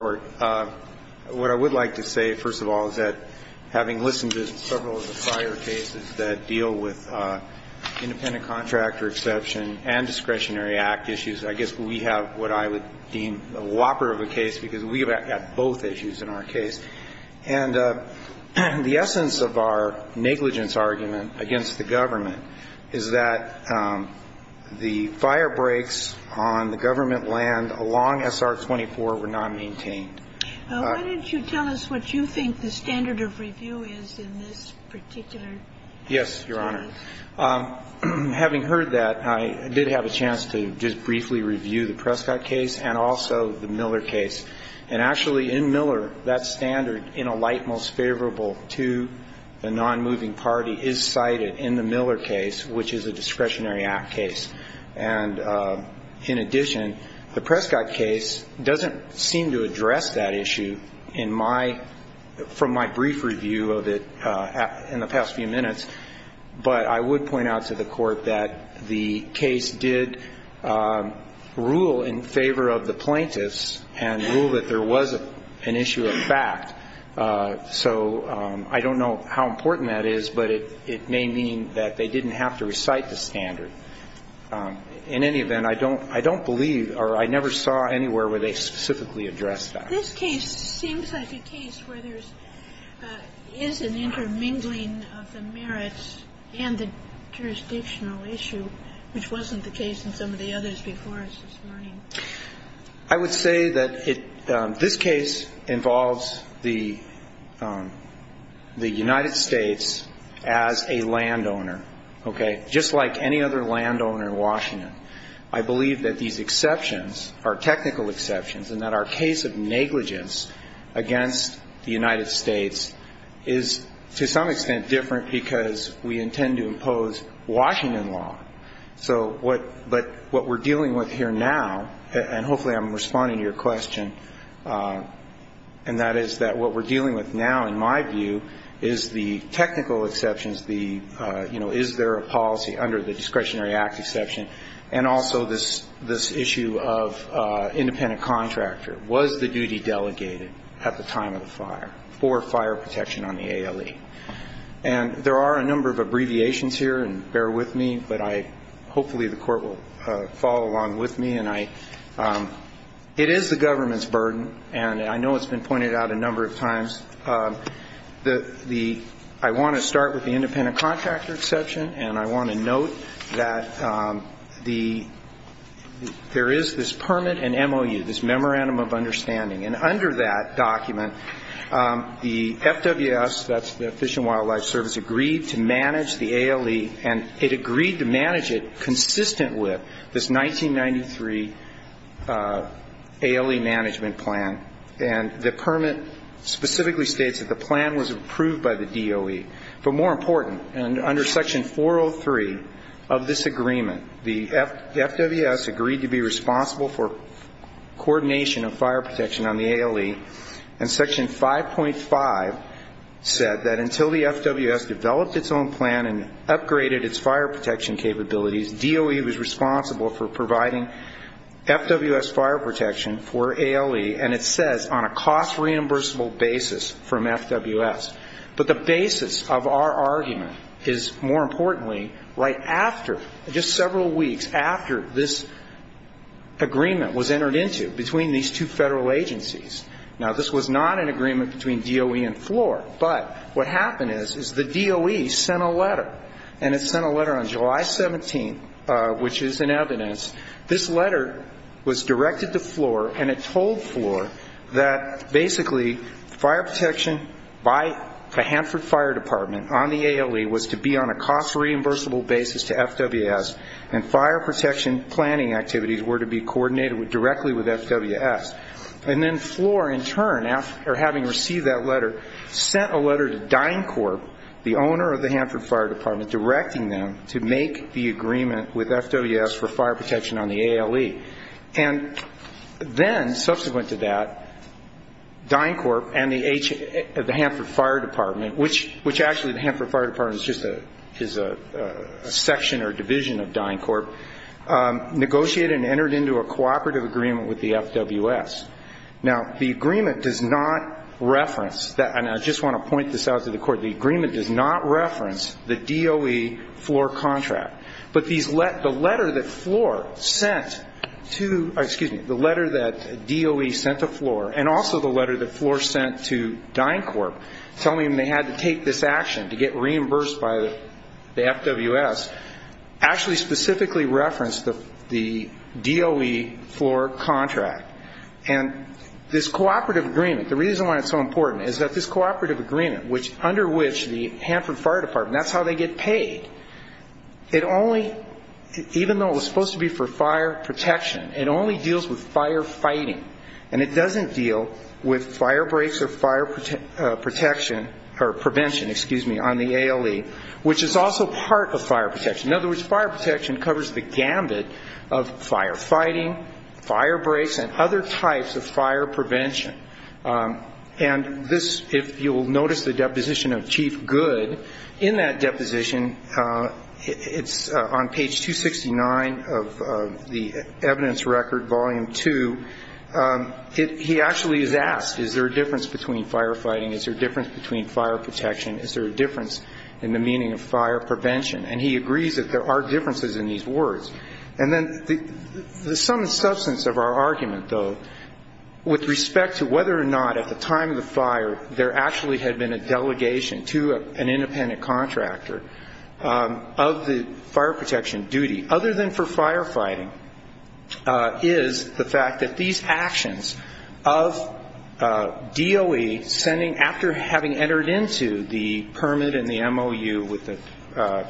What I would like to say first of all is that having listened to several of the prior cases that deal with independent contractor exception and discretionary act issues, I guess we have what I would deem a whopper of a case because we have had both issues in our case. And the essence of our negligence argument against the government is that the firebreaks on the What did you tell us what you think the standard of review is in this particular case? Yes, Your Honor. Having heard that, I did have a chance to just briefly review the Prescott case and also the Miller case. And actually, in Miller, that standard, in a light most favorable to the nonmoving party, is cited in the Miller case, which is a discretionary act case. And in addition, the Prescott case doesn't seem to address that issue in my from my brief review of it in the past few minutes. But I would point out to the court that the case did rule in favor of the plaintiffs and rule that there was an issue of fact. So I don't know how important that is, but it may mean that they didn't have to recite the standard. In any event, I don't believe or I never saw anywhere where they specifically addressed that. This case seems like a case where there is an intermingling of the merits and the jurisdictional issue, which wasn't the case in some of the others before us this morning. I would say that this case involves the United States as a landowner, okay, just like any other landowner in Washington. I believe that these exceptions are technical exceptions and that our case of negligence against the United States is, to some extent, different because we intend to impose Washington law. So what we're dealing with here now, and hopefully I'm responding to your question, and that is that what we're dealing with now, in my view, is the technical exceptions, the, you know, is there a policy under the discretionary act exception, and also this issue of independent contractor. Was the duty delegated at the time of the fire for fire protection on the ALE? And there are a number of abbreviations here, and bear with me, but I, hopefully the court will follow along with me, and I, it is the government's burden, and I know it's been pointed out a number of times. The, I want to start with the independent contractor exception, and I want to note that the, there is this permit and MOU, this memorandum of the Fish and Wildlife Service agreed to manage the ALE, and it agreed to manage it consistent with this 1993 ALE management plan, and the permit specifically states that the plan was approved by the DOE. But more important, under section 403 of this agreement, the FWS agreed to be responsible for coordination of fire protection on the ALE, and section 5.5 said that until the FWS developed its own plan and upgraded its fire protection capabilities, DOE was responsible for providing FWS fire protection for ALE, and it says on a cost reimbursable basis from FWS. But the basis of our argument is, more importantly, right after, just several weeks after this agreement was entered into between these two federal Now, this was not an agreement between DOE and FLOR, but what happened is, is the DOE sent a letter, and it sent a letter on July 17th, which is in evidence. This letter was directed to FLOR, and it told FLOR that basically fire protection by the Hanford Fire Department on the ALE was to be on a cost reimbursable basis to FWS, and fire protection planning activities were to be coordinated directly with FWS. And then FLOR, in turn, having received that letter, sent a letter to DynCorp, the owner of the Hanford Fire Department, directing them to make the agreement with FWS for fire protection on the ALE. And then, subsequent to that, DynCorp and the Hanford Fire Department, which actually the Hanford Fire Department is just a section or division of DynCorp, negotiated and entered into a cooperative agreement with the FWS. Now, the agreement does not reference, and I just want to point this out to the Court, the agreement does not reference the DOE FLOR contract. But these letters, the letter that FLOR sent to, excuse me, the letter that DOE sent to FLOR, and also the letter that FLOR sent to DynCorp telling them they had to take this action to get reimbursed by the FWS, actually specifically reference the DOE FLOR contract. And this cooperative agreement, the reason why it's so important, is that this cooperative agreement, under which the Hanford Fire Department, that's how they get paid, it only, even though it was supposed to be for fire protection, it only deals with fire fighting. And it doesn't deal with fire breaks or fire protection, or prevention, excuse me, on the ALE, which is also part of fire protection. In other words, fire protection covers the gambit of fire fighting, fire breaks, and other types of fire prevention. And this, if you'll notice the deposition of Chief Good, in that deposition, it's on page 269 of the evidence record, volume 2, he actually is asked, is there a difference between fire fighting, is there a difference between fire protection, is there a difference in the meaning of fire prevention? And he agrees that there are differences in these words. And then the sum and substance of our argument, though, with respect to whether or not at the time of the fire there actually had been a delegation to an independent contractor of the fire protection duty, other than for the fact that these actions of DOE sending, after having entered into the permit and the MOU with the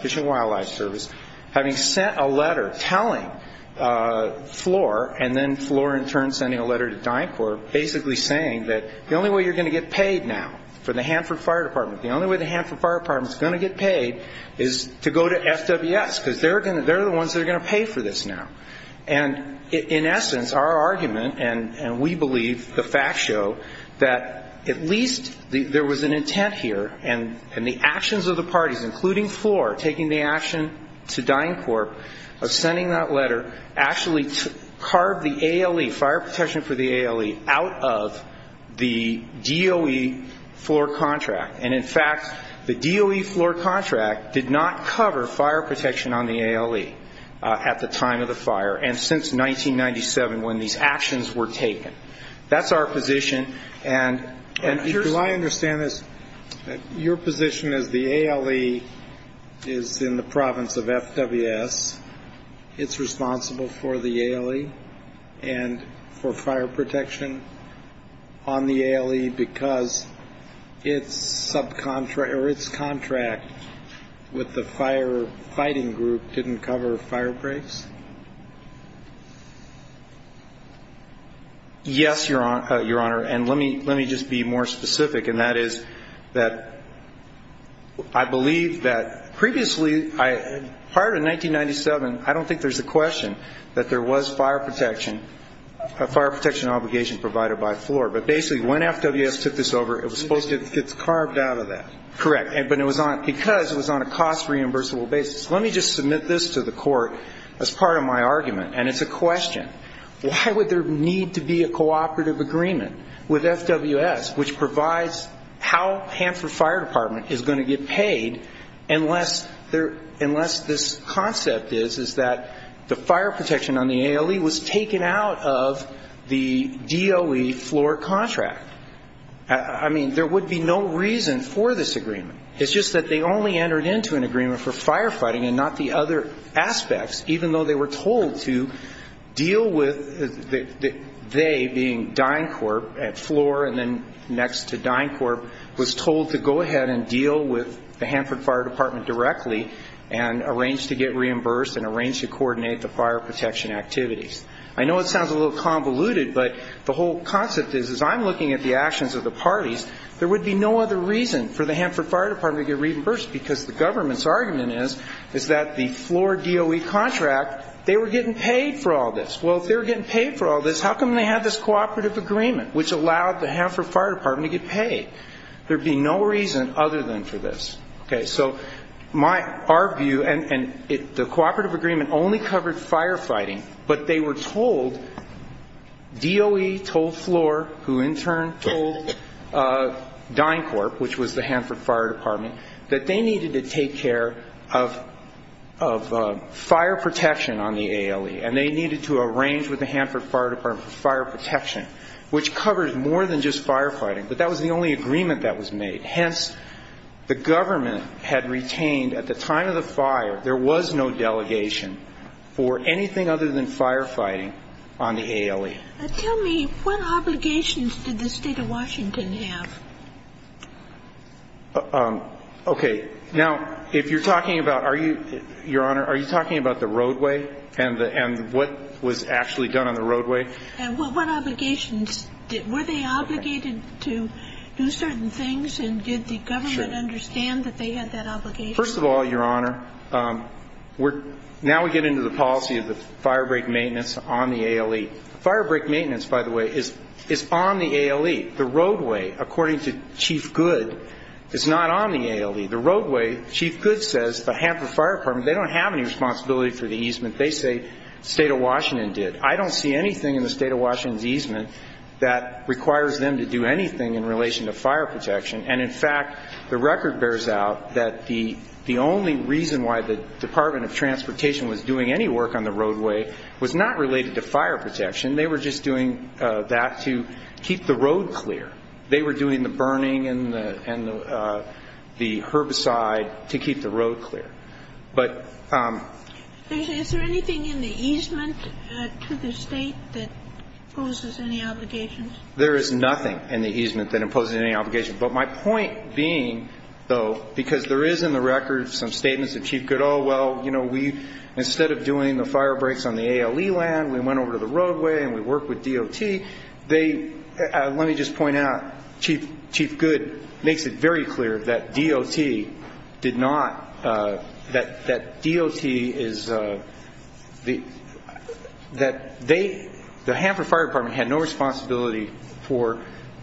Fish and Wildlife Service, having sent a letter telling Floor, and then Floor in turn sending a letter to DynCorp, basically saying that the only way you're going to get paid now, for the Hanford Fire Department, the only way the Hanford Fire Department is going to get paid is to go to FWS, because they're the ones that are going to pay for this now. And in essence, our argument, and we believe, the facts show, that at least there was an intent here, and the actions of the parties, including Floor, taking the action to DynCorp of sending that letter, actually carved the ALE, fire protection for the ALE, out of the DOE Floor contract. And in fact, the DOE Floor contract did not cover fire protection on the ALE at the time of the fire, and since 1997, when these actions were taken. That's our position, and if you're... Do I understand this, your position is the ALE is in the province of FWS, it's responsible for the ALE, and for fire protection on the ALE, because it's subcontract, or it's contract with the fire fighting group, didn't cover fire breaks? Yes, your honor, and let me just be more specific, and that is that I believe that previously, prior to 1997, I don't think there's a question that there was fire protection, a fire protection obligation provided by Floor, but basically when FWS took this over, it was supposed to It gets carved out of that. Correct, but it was on, because it was on a cost reimbursable basis. Let me just submit this to the court as part of my argument, and it's a question. Why would there need to be a cooperative agreement with FWS, which provides how Hanford Fire Department is going to get paid, unless this concept is that the fire protection on the ALE was taken out of the DOE Floor contract? I mean, there would be no reason for this agreement. It's just that they only entered into an agreement for fire fighting, and not the other aspects, even though they were told to deal with, they being DynCorp at Floor, and then next to DynCorp, was told to go ahead and deal with the Hanford Fire Department directly, and arrange to get reimbursed, and arrange to coordinate the fire protection activities. I know it sounds a little convoluted, but the whole concept is, as I'm looking at the actions of the parties, there would be no other reason for the Hanford Fire Department to get reimbursed, because the government's argument is, is that the Floor DOE contract, they were getting paid for all this. Well, if they were getting paid for all this, how come they have this cooperative agreement, which allowed the Hanford Fire Department to get paid? There'd be no reason other than for this. Okay, so my, our view, and the cooperative agreement only covered fire fighting, but they were told, DOE told Floor, who in turn told DynCorp, which was the Hanford Fire Department, that they needed to take care of fire protection on the ALE, and they needed to arrange with the Hanford Fire Department for fire protection, which covered more than just fire fighting, but that was the only agreement that was made. And hence, the government had retained, at the time of the fire, there was no delegation for anything other than fire fighting on the ALE. Tell me, what obligations did the State of Washington have? Okay. Now, if you're talking about, are you, Your Honor, are you talking about the roadway and the, and what was actually done on the roadway? And what, what obligations did, were they obligated to do certain things, and did the government understand that they had that obligation? First of all, Your Honor, we're, now we get into the policy of the firebreak maintenance on the ALE. Firebreak maintenance, by the way, is, is on the ALE. The roadway, according to Chief Goode, is not on the ALE. The roadway, Chief Goode says, the Hanford Fire Department, they don't have any responsibility for the easement. They say State of Washington did. I don't see anything in the State of Washington's easement that requires them to do anything in relation to fire protection. And in fact, the record bears out that the, the only reason why the Department of Transportation was doing any work on the roadway was not related to fire protection. They were just doing that to keep the road clear. They were doing the burning and the, and the herbicide to keep the road clear. But Is there anything in the easement to the State that imposes any obligation? There is nothing in the easement that imposes any obligation. But my point being, though, because there is in the record some statements of Chief Goode, oh, well, you know, we, instead of doing the firebreaks on the ALE land, we went over to the roadway and we worked with DOT, they, let me just point out, Chief, Chief Goode makes it very clear that DOT did not, that, that DOT is the, that they, the Hanford Fire Department had no responsibility for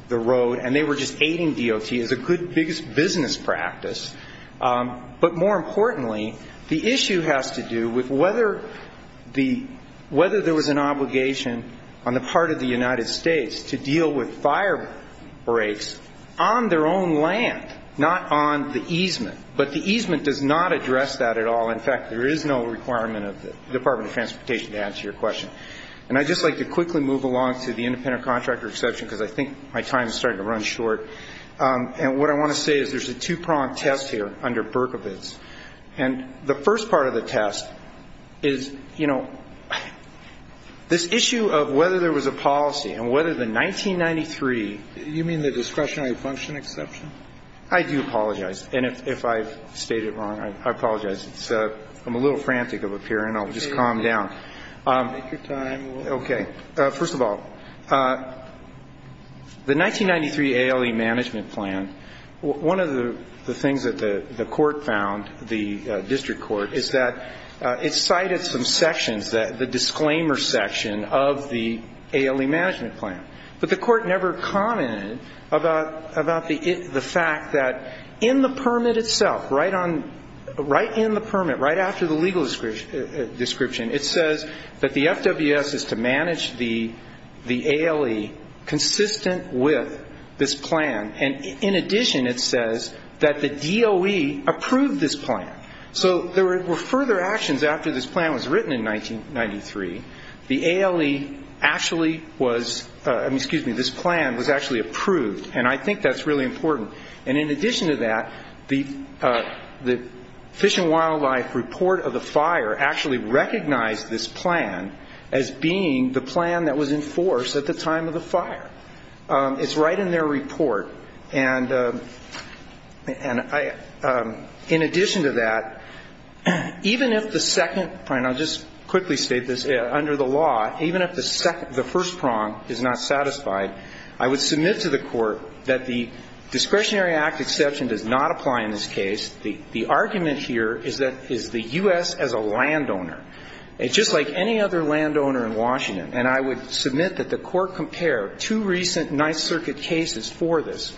the road and they were just aiding DOT as a good business practice. But more importantly, the issue has to do with whether the, whether there was an obligation on the part of the United States to deal with firebreaks on their own land, not on the easement. But the easement does not address that at all. In fact, there is no requirement of the Department of Transportation to answer your question. And I'd just like to quickly move along to the independent contractor exception because I think my time is starting to run short. And what I want to say is there's a two-prong test here under Berkovitz. And the first part of the test is, you know, this issue of whether there was a policy and whether the 1993 You mean the discretionary function exception? I do apologize. And if I've stated it wrong, I apologize. I'm a little frantic up here and I'll just calm down. Take your time. Okay. First of all, the 1993 ALE management plan, one of the things that the court found, the district court, is that it cited some sections that, the disclaimer section of the ALE management plan. But the court never commented about the fact that in the permit itself, right on, right in the permit, right after the legal description, it says that the FWS is to manage the ALE consistent with this plan. And in addition, it says that the DOE approved this plan. So there were further actions after this plan was written in 1993. The ALE actually was, excuse me, this plan was actually approved. And I think that's really important. And in addition to that, the Fish and Wildlife report of the fire actually recognized this plan as being the plan that was enforced at the time of the fire. It's right in their report. And I, in addition to that, even if the second, and I'll just quickly state this, under the law, even if the second, the first prong is not satisfied, I would submit to the court that the Discretionary Act exception does not apply in this case. The argument here is that, is the U.S. as a landowner, just like any other landowner in Washington. And I would submit that the court compared two recent Ninth Circuit cases for this.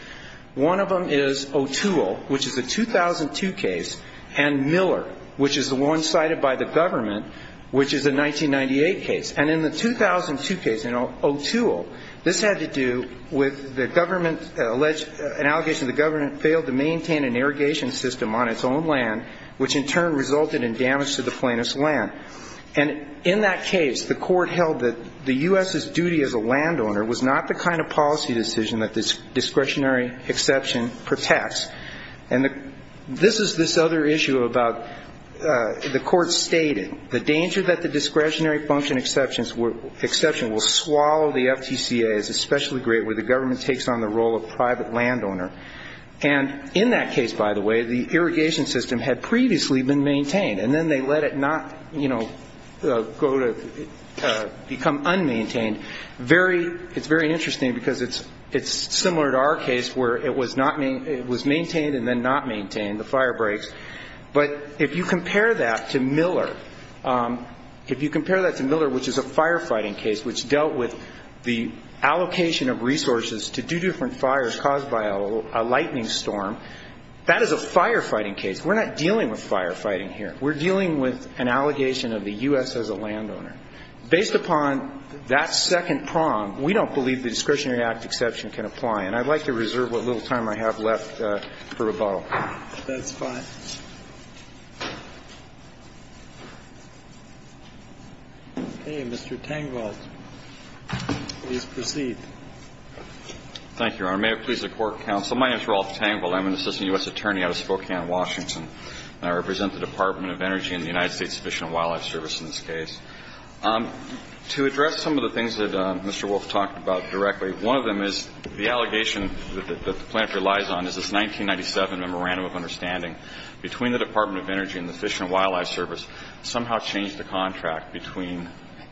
One of them is O'Toole, which is a 2002 case, and Miller, which is the one cited by the government, which is a 1998 case. And in the 2002 case, in O'Toole, this had to do with the government alleged, an allegation the government failed to maintain an irrigation system on its own land, which in turn resulted in damage to the plaintiff's land. And in that case, the court held that the U.S.'s duty as a landowner was not the kind of policy decision that this discretionary exception protects. And this is this other issue about the court stating, the danger that the discretionary function exception will swallow the FTCA is especially great where the government takes on the role of private landowner. And in that case, by the way, the irrigation system had previously been maintained, and then they let it not, you know, go to become unmaintained. Very, it's very interesting because it's similar to our case where it was maintained and then not maintained, the fire breaks. But if you compare that to Miller, if you compare that to Miller, which is a firefighting case, which dealt with the allocation of resources to do different fires caused by a lightning storm, that is a firefighting case. We're not dealing with firefighting here. We're dealing with an allegation of the U.S. as a landowner. Based upon that second prong, we don't believe the discretionary act exception can apply. And I'd like to reserve what little time I have left for rebuttal. That's fine. Okay. Mr. Tangvold, please proceed. Thank you, Your Honor. May it please the Court of Counsel, my name is Rolf Tangvold. I'm an assistant U.S. attorney out of Spokane, Washington, and I represent the Department of Energy and the United States Fish and Wildlife Service in this case. To address some of the things that Mr. Wolf talked about directly, one of them is the random of understanding between the Department of Energy and the Fish and Wildlife Service somehow changed the contract between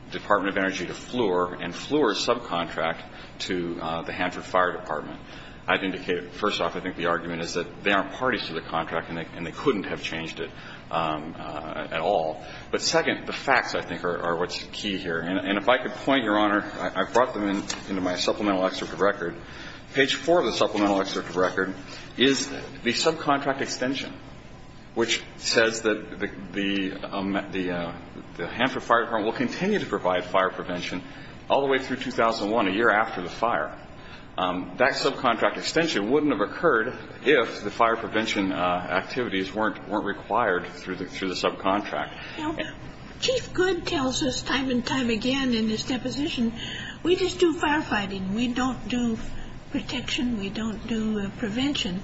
the Department of Energy to FLUR and FLUR's subcontract to the Hanford Fire Department. I'd indicate, first off, I think the argument is that they aren't parties to the contract and they couldn't have changed it at all. But second, the facts, I think, are what's key here. And if I could point, Your Honor – I've brought them into my supplemental excerpt of record. Page four of the supplemental excerpt of record is the subcontract extension, which says that the Hanford Fire Department will continue to provide fire prevention all the way through 2001, a year after the fire. That subcontract extension wouldn't have occurred if the fire prevention activities weren't required through the subcontract. Chief Goode tells us time and time again in his deposition, we just do firefighting. We don't do protection. We don't do prevention.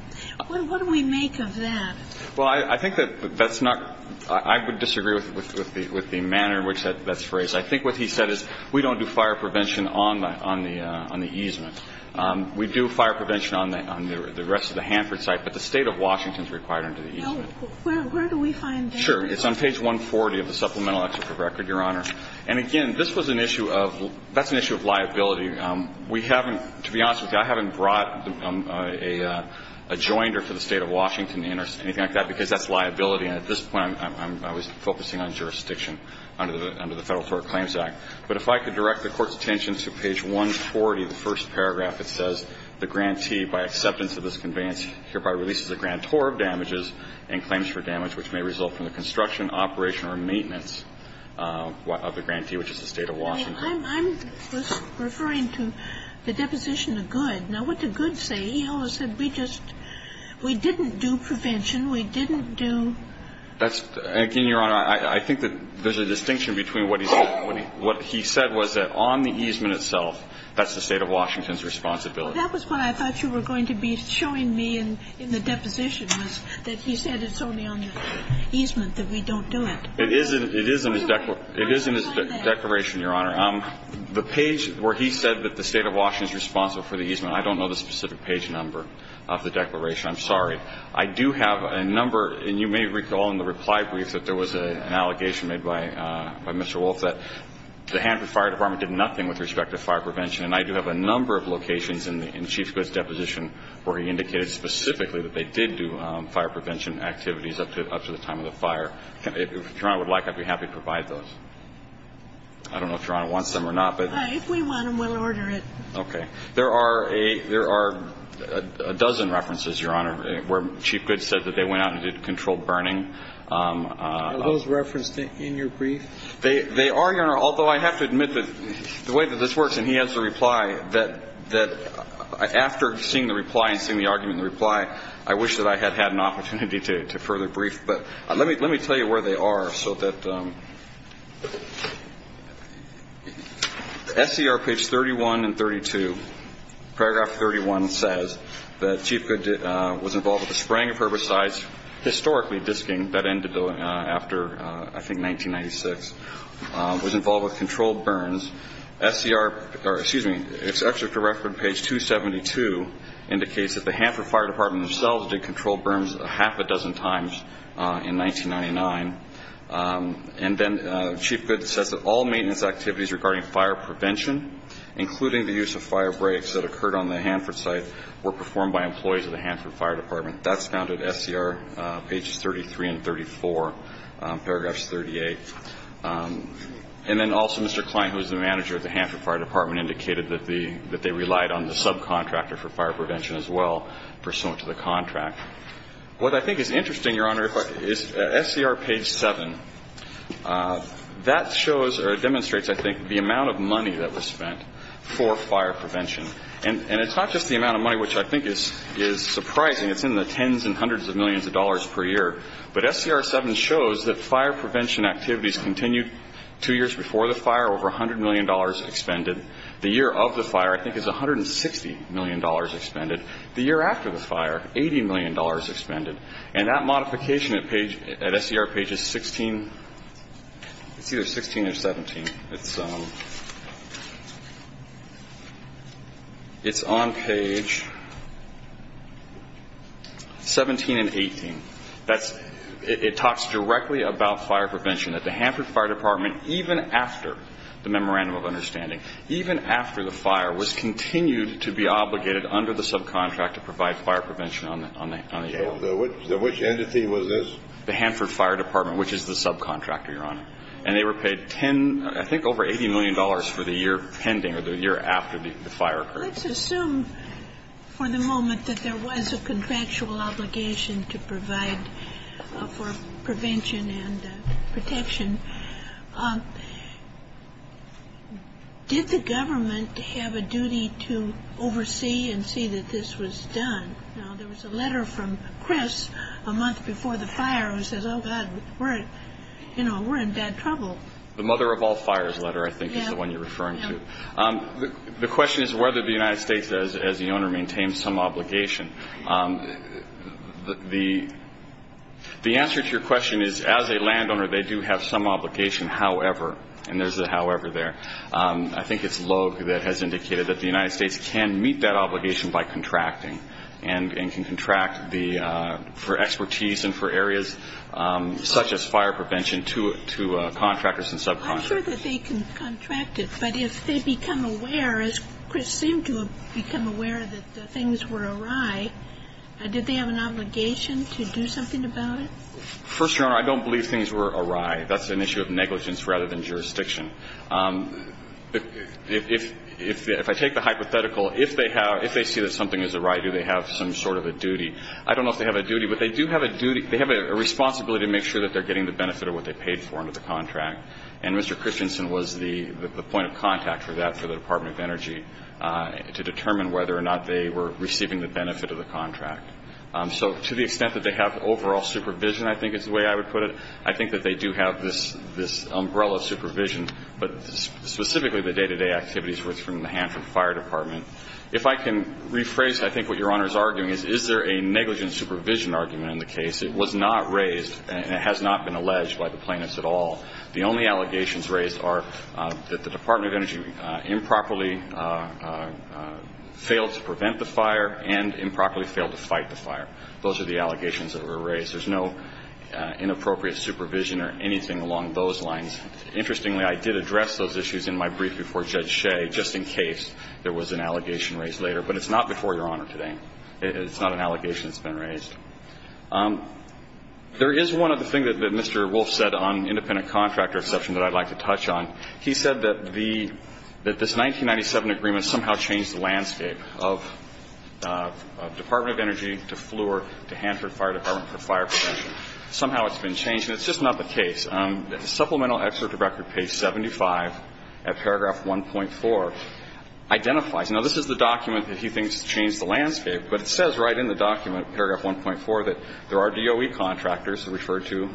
What do we make of that? Well, I think that's not – I would disagree with the manner in which that's phrased. I think what he said is we don't do fire prevention on the easement. We do fire prevention on the rest of the Hanford site, but the State of Washington is required under the easement. No. Where do we find that? Sure. It's on page 140 of the supplemental excerpt of record, Your Honor. And again, this was an issue of – that's an issue of liability. We haven't – to be honest with you, I haven't brought a – a joinder for the State of Washington in or anything like that, because that's liability. And at this point, I'm – I was focusing on jurisdiction under the Federal Tort Claims Act. But if I could direct the Court's attention to page 140 of the first paragraph, it says the grantee, by acceptance of this conveyance, hereby releases a grantor of damages and claims for damage, which may result from the construction, operation, or maintenance of the grantee, which is the State of Washington. I'm – I'm just referring to the deposition of good. Now, what did good say? He always said we just – we didn't do prevention. We didn't do – That's – again, Your Honor, I think that there's a distinction between what he said – what he said was that on the easement itself, that's the State of Washington's responsibility. Well, that was what I thought you were going to be showing me in the deposition, was that he said it's only on the easement that we don't do it. It is in – it is in his – It is in his declaration, Your Honor. The page where he said that the State of Washington is responsible for the easement, I don't know the specific page number of the declaration. I'm sorry. I do have a number – and you may recall in the reply brief that there was an allegation made by – by Mr. Wolf that the Hanford Fire Department did nothing with respect to fire prevention, and I do have a number of locations in the – in Chief Good's deposition where he indicated specifically that they did do fire prevention activities up to – up to the time of the fire. If Your Honor would like, I'd be happy to provide those. I don't know if Your Honor wants them or not, but – All right. If we want them, we'll order it. Okay. There are a – there are a dozen references, Your Honor, where Chief Good said that they went out and did controlled burning. Are those referenced in your brief? They – they are, Your Honor, although I have to admit that the way that this works, and he has the reply, that – that after seeing the reply and seeing the argument in the reply, I wish that I had had an opportunity to – to further brief. But let me – let me tell you where they are so that – SCR page 31 and 32, paragraph 31 says that Chief Good did – was involved with the spraying of herbicides, historically disking, that ended after, I think, 1996, was involved with controlled burns. SCR – or excuse me, it's actually for reference page 272 indicates that the Hanford Fire Department themselves did controlled burns a half a dozen times in 1999. And then Chief Good says that all maintenance activities regarding fire prevention, including the use of fire breaks that occurred on the Hanford site, were performed by employees of the Hanford Fire Department. That's found at SCR pages 33 and 34, paragraphs 38. And then also Mr. Kline, who is the manager of the Hanford Fire Department, indicated that the – that they relied on the subcontractor for fire prevention as well, pursuant to the contract. What I think is interesting, Your Honor, is SCR page 7. That shows or demonstrates, I think, the amount of money that was spent for fire prevention. And – and it's not just the amount of money, which I think is – is surprising. It's in the tens and hundreds of millions of dollars per year. But SCR 7 shows that fire prevention activities continued two years before the fire, over $100 million expended. The year of the fire, I think, is $160 million expended. The year after the fire, $80 million expended. And that modification at page – at SCR pages 16 – it's either 16 or 17. It's – it's on page 17 and 18. That's – it talks directly about fire prevention, that the Hanford Fire Department, even after the Memorandum of Understanding, even after the fire, was continued to be obligated under the subcontract to provide fire prevention on the – on the air. So the – which entity was this? The Hanford Fire Department, which is the subcontractor, Your Honor. And they were paid 10 – I think over $80 million for the year pending, or the year after the fire occurred. Let's assume for the moment that there was a contractual obligation to provide for prevention and protection. Did the government have a duty to oversee and see that this was done? Now, there was a letter from Chris a month before the fire, who says, oh, God, we're – you know, we're in bad trouble. The mother of all fires letter, I think, is the one you're referring to. Yeah. Yeah. The question is whether the United States, as the owner, maintains some obligation. The answer to your question is, as a landowner, they do have some obligation. However – and there's a however there – I think it's Logue that has indicated that the United States can meet that obligation by contracting and can contract the – for expertise and for areas such as fire prevention to contractors and subcontractors. I'm not sure that they can contract it, but if they become aware, as Chris seemed to have become aware, that things were awry, did they have an obligation to do something about it? First, Your Honor, I don't believe things were awry. That's an issue of negligence rather than jurisdiction. If – if I take the hypothetical, if they have – if they see that something is awry, do they have some sort of a duty? I don't know if they have a duty, but they do have a duty – they have a responsibility to make sure that they're getting the benefit of what they paid for under the contract. And Mr. Christensen was the – the point of contact for that for the Department of Energy to determine whether or not they were receiving the benefit of the contract. So to the extent that they have overall supervision, I think is the way I would put it, I think that they do have this – this umbrella of supervision, but specifically the day-to-day activities from the Hanford Fire Department. If I can rephrase, I think, what Your Honor is arguing is, is there a negligent supervision argument in the case. It was not raised and it has not been alleged by the plaintiffs at all. The only allegations raised are that the Department of Energy improperly failed to prevent the fire and improperly failed to fight the fire. Those are the allegations that were raised. There's no inappropriate supervision or anything along those lines. Interestingly, I did address those issues in my brief before Judge Shea, just in case there was an allegation raised later. But it's not before Your Honor today. It's not an allegation that's been raised. There is one other thing that Mr. Wolf said on independent contractor exception that I'd like to touch on. He said that the – that this 1997 agreement somehow changed the landscape of Department of Energy to FLUR to Hanford Fire Department for fire protection. Somehow it's been changed, and it's just not the case. Supplemental excerpt to Record, page 75, at paragraph 1.4, identifies – now, this is the document that he thinks changed the landscape, but it says right in the document, paragraph 1.4, that there are DOE contractors referred to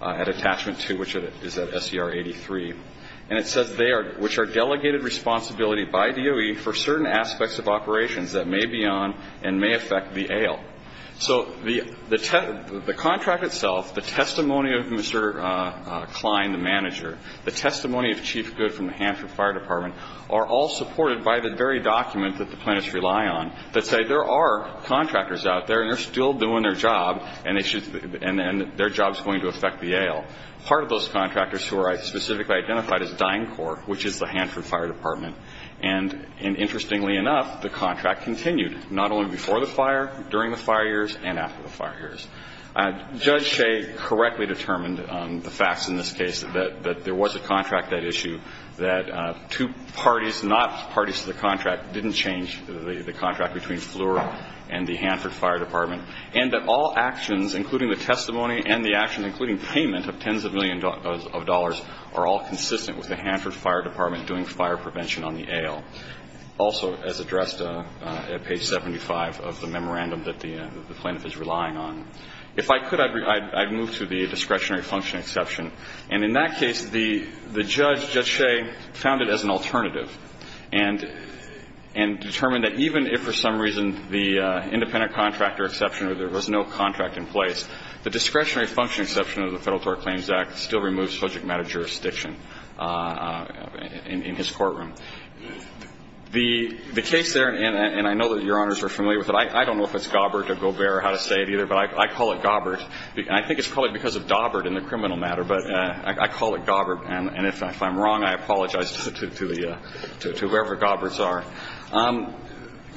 at attachment 2, which is at SCR 83. And it says they are – which are delegated responsibility by DOE for certain aspects of operations that may be on and may affect the AL. So the – the contract itself, the testimony of Mr. Klein, the manager, the testimony of Chief Good from the Hanford Fire Department, are all supported by the very document that the plaintiffs rely on that say there are contractors out there, and they're still doing their job, and they should – and then their job's going to affect the AL. Part of those contractors who are specifically identified as DYNCOR, which is the Hanford Fire Department, and interestingly enough, the contract continued, not only before the fire, during the fire years, and after the fire years. Judge Shea correctly determined the facts in this case, that – that there was a contract that issue, that two parties, not parties to the contract, didn't change the contract between Fleur and the Hanford Fire Department, and that all actions, including the testimony and the actions, including payment of tens of millions of dollars, are all consistent with the Hanford Fire Department doing fire prevention on the AL, also as addressed at page 75 of the memorandum that the plaintiff is relying on. If I could, I'd move to the discretionary function exception. And in that case, the – the judge, Judge Shea, found it as an alternative and – and determined that even if for some reason the independent contractor exception, or there was no contract in place, the discretionary function exception of the Federal Tort Claims Act still removes subject matter jurisdiction in his courtroom. The – the case there, and I know that Your Honors are familiar with it. I don't know if it's Gobert or Gobert or how to say it either, but I call it Gobert. I think it's probably because of Dobbert in the criminal matter, but I call it Gobert. And if I'm wrong, I apologize to the – to whoever Goberts are.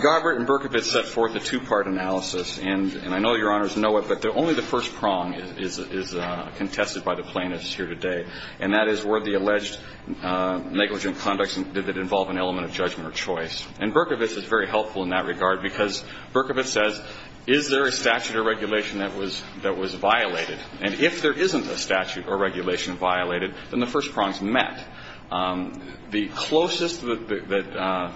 Gobert and Berkovitz set forth a two-part analysis. And I know Your Honors know it, but only the first prong is contested by the plaintiffs here today, and that is were the alleged negligent conducts – did it involve an element of judgment or choice? And Berkovitz is very helpful in that regard because Berkovitz says, is there a statute or regulation that was – that was violated? And if there isn't a statute or regulation violated, then the first prongs met. The closest that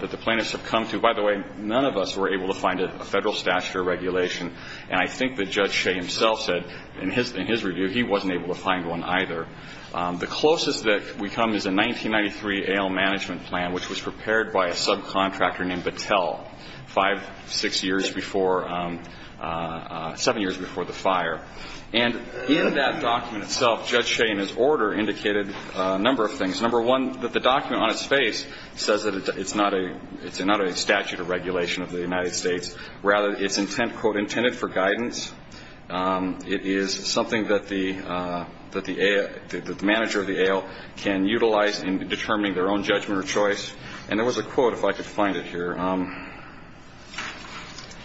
– that the plaintiffs have come to – by the way, none of us were able to find a Federal statute or regulation, and I think that Judge Shea himself said in his – in his review he wasn't able to find one either. The closest that we come is a 1993 A.L. management plan which was prepared by a subcontractor named Battelle, five, six years before – seven years before the fire. And in that document itself, Judge Shea in his order indicated a number of things. Number one, that the document on its face says that it's not a – it's not a statute or regulation of the United States. Rather, it's intent – quote, intended for guidance. It is something that the – that the A.L. – that the manager of the A.L. can utilize in determining their own judgment or choice. And there was a quote, if I could find it here.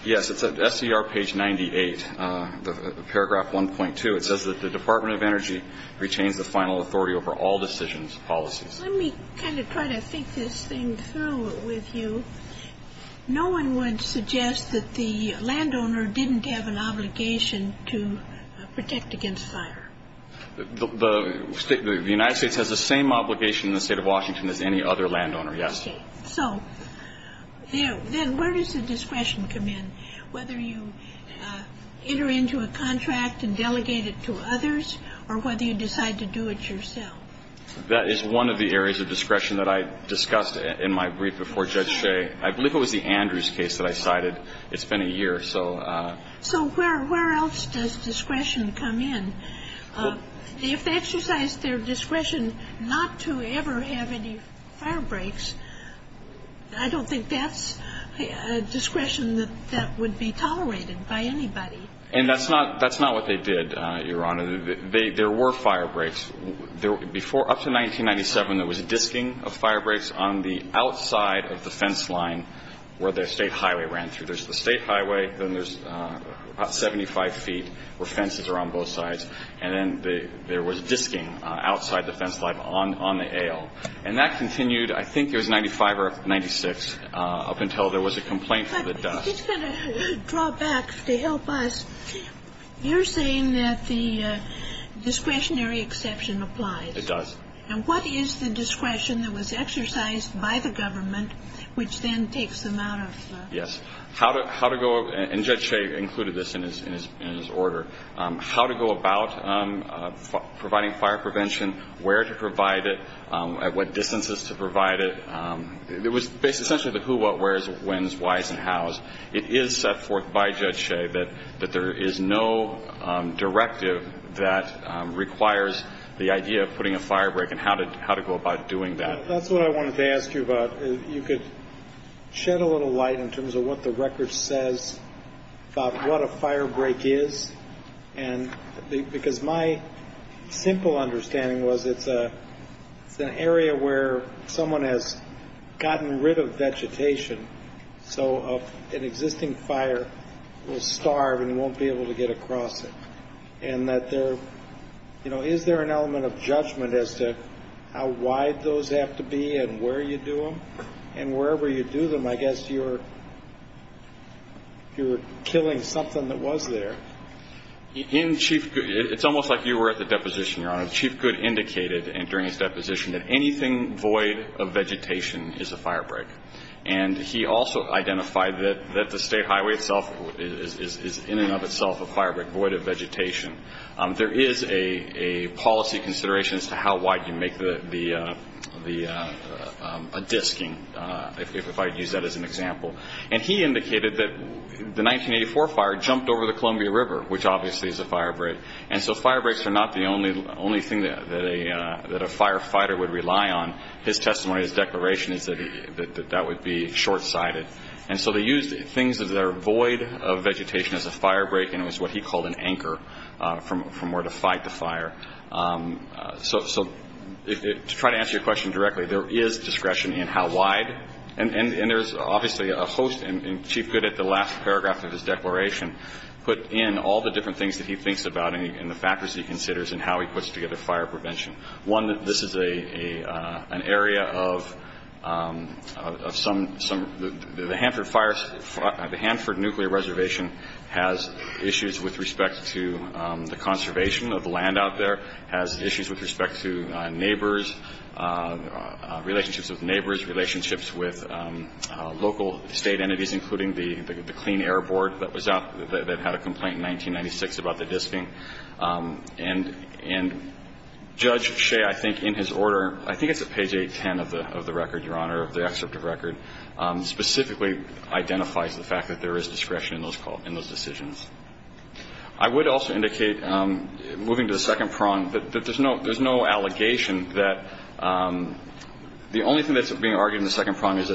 Yes. It's at SCR page 98, paragraph 1.2. It says that the Department of Energy retains the final authority over all decisions and policies. Let me kind of try to think this thing through with you. No one would suggest that the landowner didn't have an obligation to protect against fire. The – the United States has the same obligation in the State of Washington as any other landowner, yes. Okay. So then where does the discretion come in, whether you enter into a contract and delegate it to others or whether you decide to do it yourself? That is one of the areas of discretion that I discussed in my brief before Judge Shea. I believe it was the Andrews case that I cited. It's been a year, so – So where else does discretion come in? If they exercised their discretion not to ever have any firebreaks, I don't think that's a discretion that would be tolerated by anybody. And that's not – that's not what they did, Your Honor. There were firebreaks. Before – up to 1997, there was a disking of firebreaks on the outside of the fence line where the State Highway ran through. There's the State Highway, then there's 75 feet where fences are on both sides. And then there was disking outside the fence line on the ale. And that continued, I think it was 95 or 96, up until there was a complaint for the dust. I'm just going to draw back to help us. You're saying that the discretionary exception applies. It does. And what is the discretion that was exercised by the government, which then takes them out of – Yes. How to go – and Judge Shea included this in his order – how to go about providing fire prevention, where to provide it, at what distances to provide it. It was essentially the who, what, where's, when's, why's, and how's. It is set forth by Judge Shea that there is no directive that requires the idea of putting a firebreak and how to go about doing that. That's what I wanted to ask you about. You could shed a little light in terms of what the record says about what a firebreak is. And because my simple understanding was it's an area where someone has gotten rid of vegetation, so an existing fire will starve and won't be able to get across it. And that there – you know, is there an element of judgment as to how wide those have to be and where you do them? And wherever you do them, I guess you're killing something that was there. In Chief – it's almost like you were at the deposition, Your Honor. Chief Goode indicated during his deposition that anything void of vegetation is a firebreak. And he also identified that the State Highway itself is in and of itself a firebreak, void of vegetation. There is a policy consideration as to how wide you make the – a disking, if I could use that as an example. And he indicated that the 1984 fire jumped over the Columbia River, which obviously is a firebreak. And so firebreaks are not the only thing that a firefighter would rely on. His testimony, his declaration is that that would be short-sighted. And so they used things that are void of vegetation as a firebreak, and it was what he called an anchor from where to fight the fire. So to try to answer your question directly, there is discretion in how wide. And there's obviously a host – and Chief Goode at the last paragraph of his declaration put in all the different things that he thinks about and the factors he considers and how he puts together fire prevention. One, this is an area of some – the Hanford Fire – the Hanford Nuclear Reservation has issues with respect to the conservation of the land out there, has issues with respect to neighbors, relationships with neighbors, relationships with local state entities, including the Clean Air Board that was out – that had a complaint in 1996 about the disking. And Judge Shea, I think, in his order – I think it's at page 810 of the record, Your Honor, of the excerpt of record – specifically identifies the fact that there is discretion in those decisions. I would also indicate, moving to the second prong, that there's no allegation that – the only thing that's being argued in the second prong is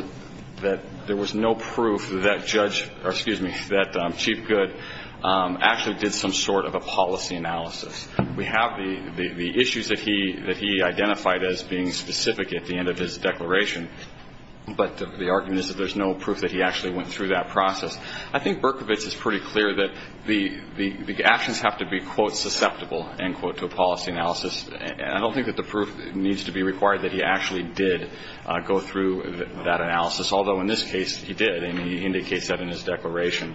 that there was no proof that Judge – or, excuse me, that Chief Goode actually did some sort of a policy analysis. We have the issues that he identified as being specific at the end of his declaration, but the argument is that there's no proof that he actually went through that process. I think Berkovitz is pretty clear that the actions have to be, quote, susceptible, end quote, to a policy analysis. I don't think that the proof needs to be required that he actually did go through that analysis, although in this case, he did, and he indicates that in his declaration.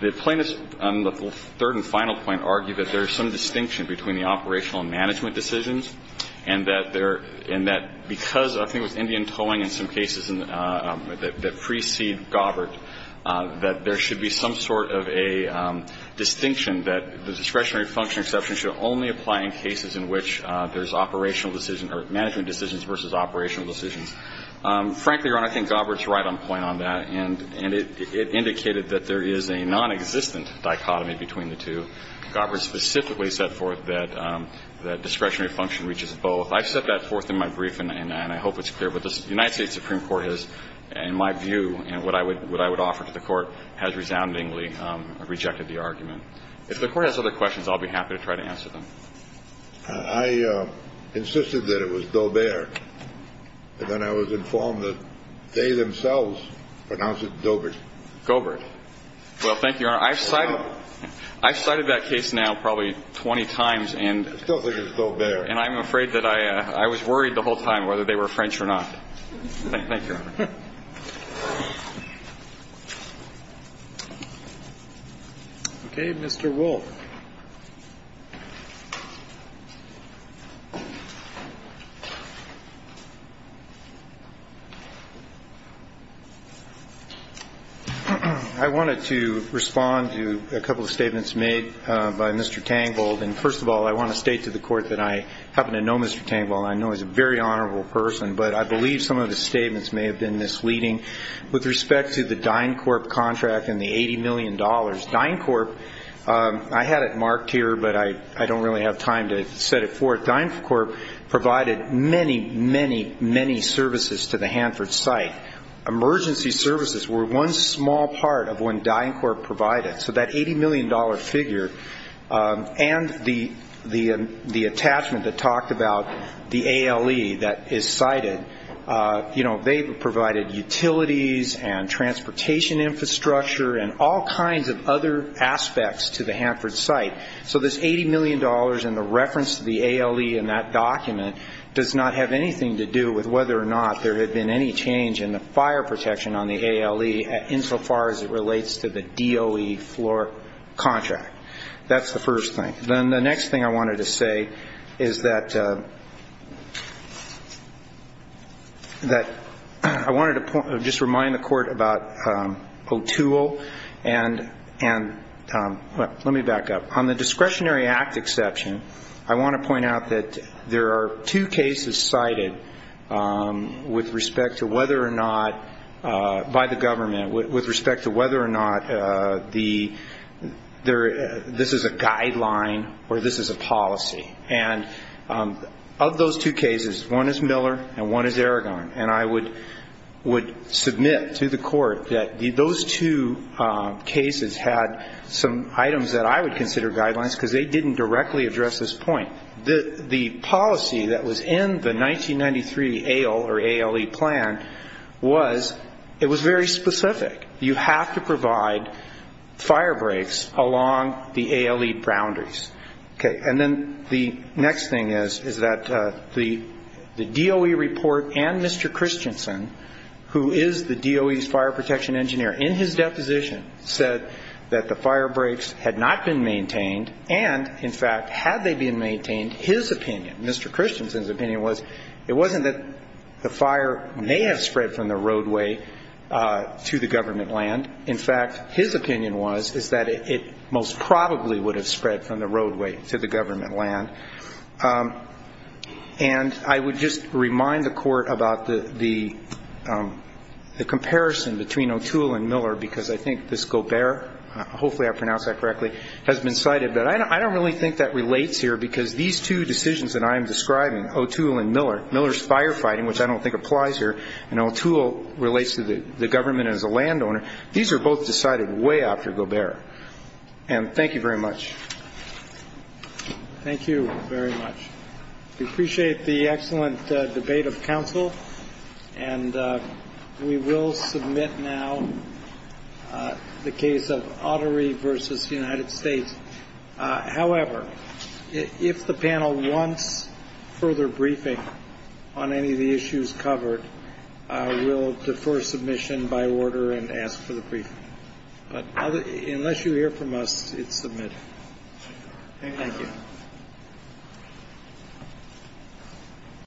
The plaintiffs, on the third and final point, argue that there's some distinction between the operational and management decisions, and that there – and that because I think it was Indian Towing in some cases that precede Gobert, that there should be some sort of a distinction that the discretionary function exception should only apply in cases in which there's operational decision – or management decisions versus operational decisions. Frankly, Your Honor, I think Gobert's right on point on that, and it indicated that there is a nonexistent dichotomy between the two. Gobert specifically set forth that discretionary function reaches both. I've set that forth in my brief, and I hope it's clear. But the United States Supreme Court has, in my view, and what I would offer to the Court, has resoundingly rejected the argument. If the Court has other questions, I'll be happy to try to answer them. I insisted that it was Dobert, and then I was informed that they themselves pronounce it Dobert. Gobert. Well, thank you, Your Honor. I've cited – I've cited that case now probably 20 times, and – It feels like it's still there. And I'm afraid that I – I was worried the whole time whether they were French or not. Thank you, Your Honor. Okay, Mr. Wolf. I wanted to respond to a couple of statements made by Mr. Tangvold. And first of all, I want to state to the Court that I happen to know Mr. Tangvold, and I know he's a very honorable person, but I believe some of his statements may have been misleading with respect to the DynCorp contract and the $80 million. DynCorp – I had it marked here, but I don't really have time to set it forth. DynCorp provided many, many, many services to the Hanford site. Emergency services were one small part of what DynCorp provided. So that $80 million figure and the attachment that talked about the ALE that is cited, you know, they provided utilities and transportation infrastructure and all kinds of other aspects to the Hanford site. So this $80 million and the reference to the ALE in that document does not have anything to do with whether or not there had been any change in the fire protection on the ALE insofar as it relates to the DOE floor contract. That's the first thing. Then the next thing I wanted to say is that – that I wanted to just remind the court that there are two cases cited by the government with respect to whether or not this is a guideline or this is a policy. And of those two cases, one is Miller and one is Aragon, and I would submit to the court that those two cases had some items that I would consider guidelines because they didn't directly address this point. The policy that was in the 1993 ALE or ALE plan was – it was very specific. You have to provide fire breaks along the ALE boundaries. Okay. And then the next thing is, is that the DOE report and Mr. Christensen, who is the DOE's fire protection engineer, in his deposition said that the fire breaks had not been maintained and, in fact, had they been maintained, his opinion – Mr. Christensen's opinion was it wasn't that the fire may have spread from the roadway to the government land. In fact, his opinion was is that it most probably would have spread from the roadway to the government land. And I would just remind the court about the comparison between O'Toole and Miller because I think this Gobert – hopefully I pronounced that correctly – has been cited, but I don't really think that relates here because these two decisions that I'm describing, O'Toole and Miller – Miller's firefighting, which I don't think applies here, and O'Toole relates to the government as a landowner – these are both decided way after Gobert. And thank you very much. Thank you very much. We appreciate the excellent debate of counsel, and we will submit now the case of Autry v. United States. However, if the panel wants further briefing on any of the issues covered, we'll defer submission by order and ask for the briefing. But unless you hear from us, it's submitted. Thank you.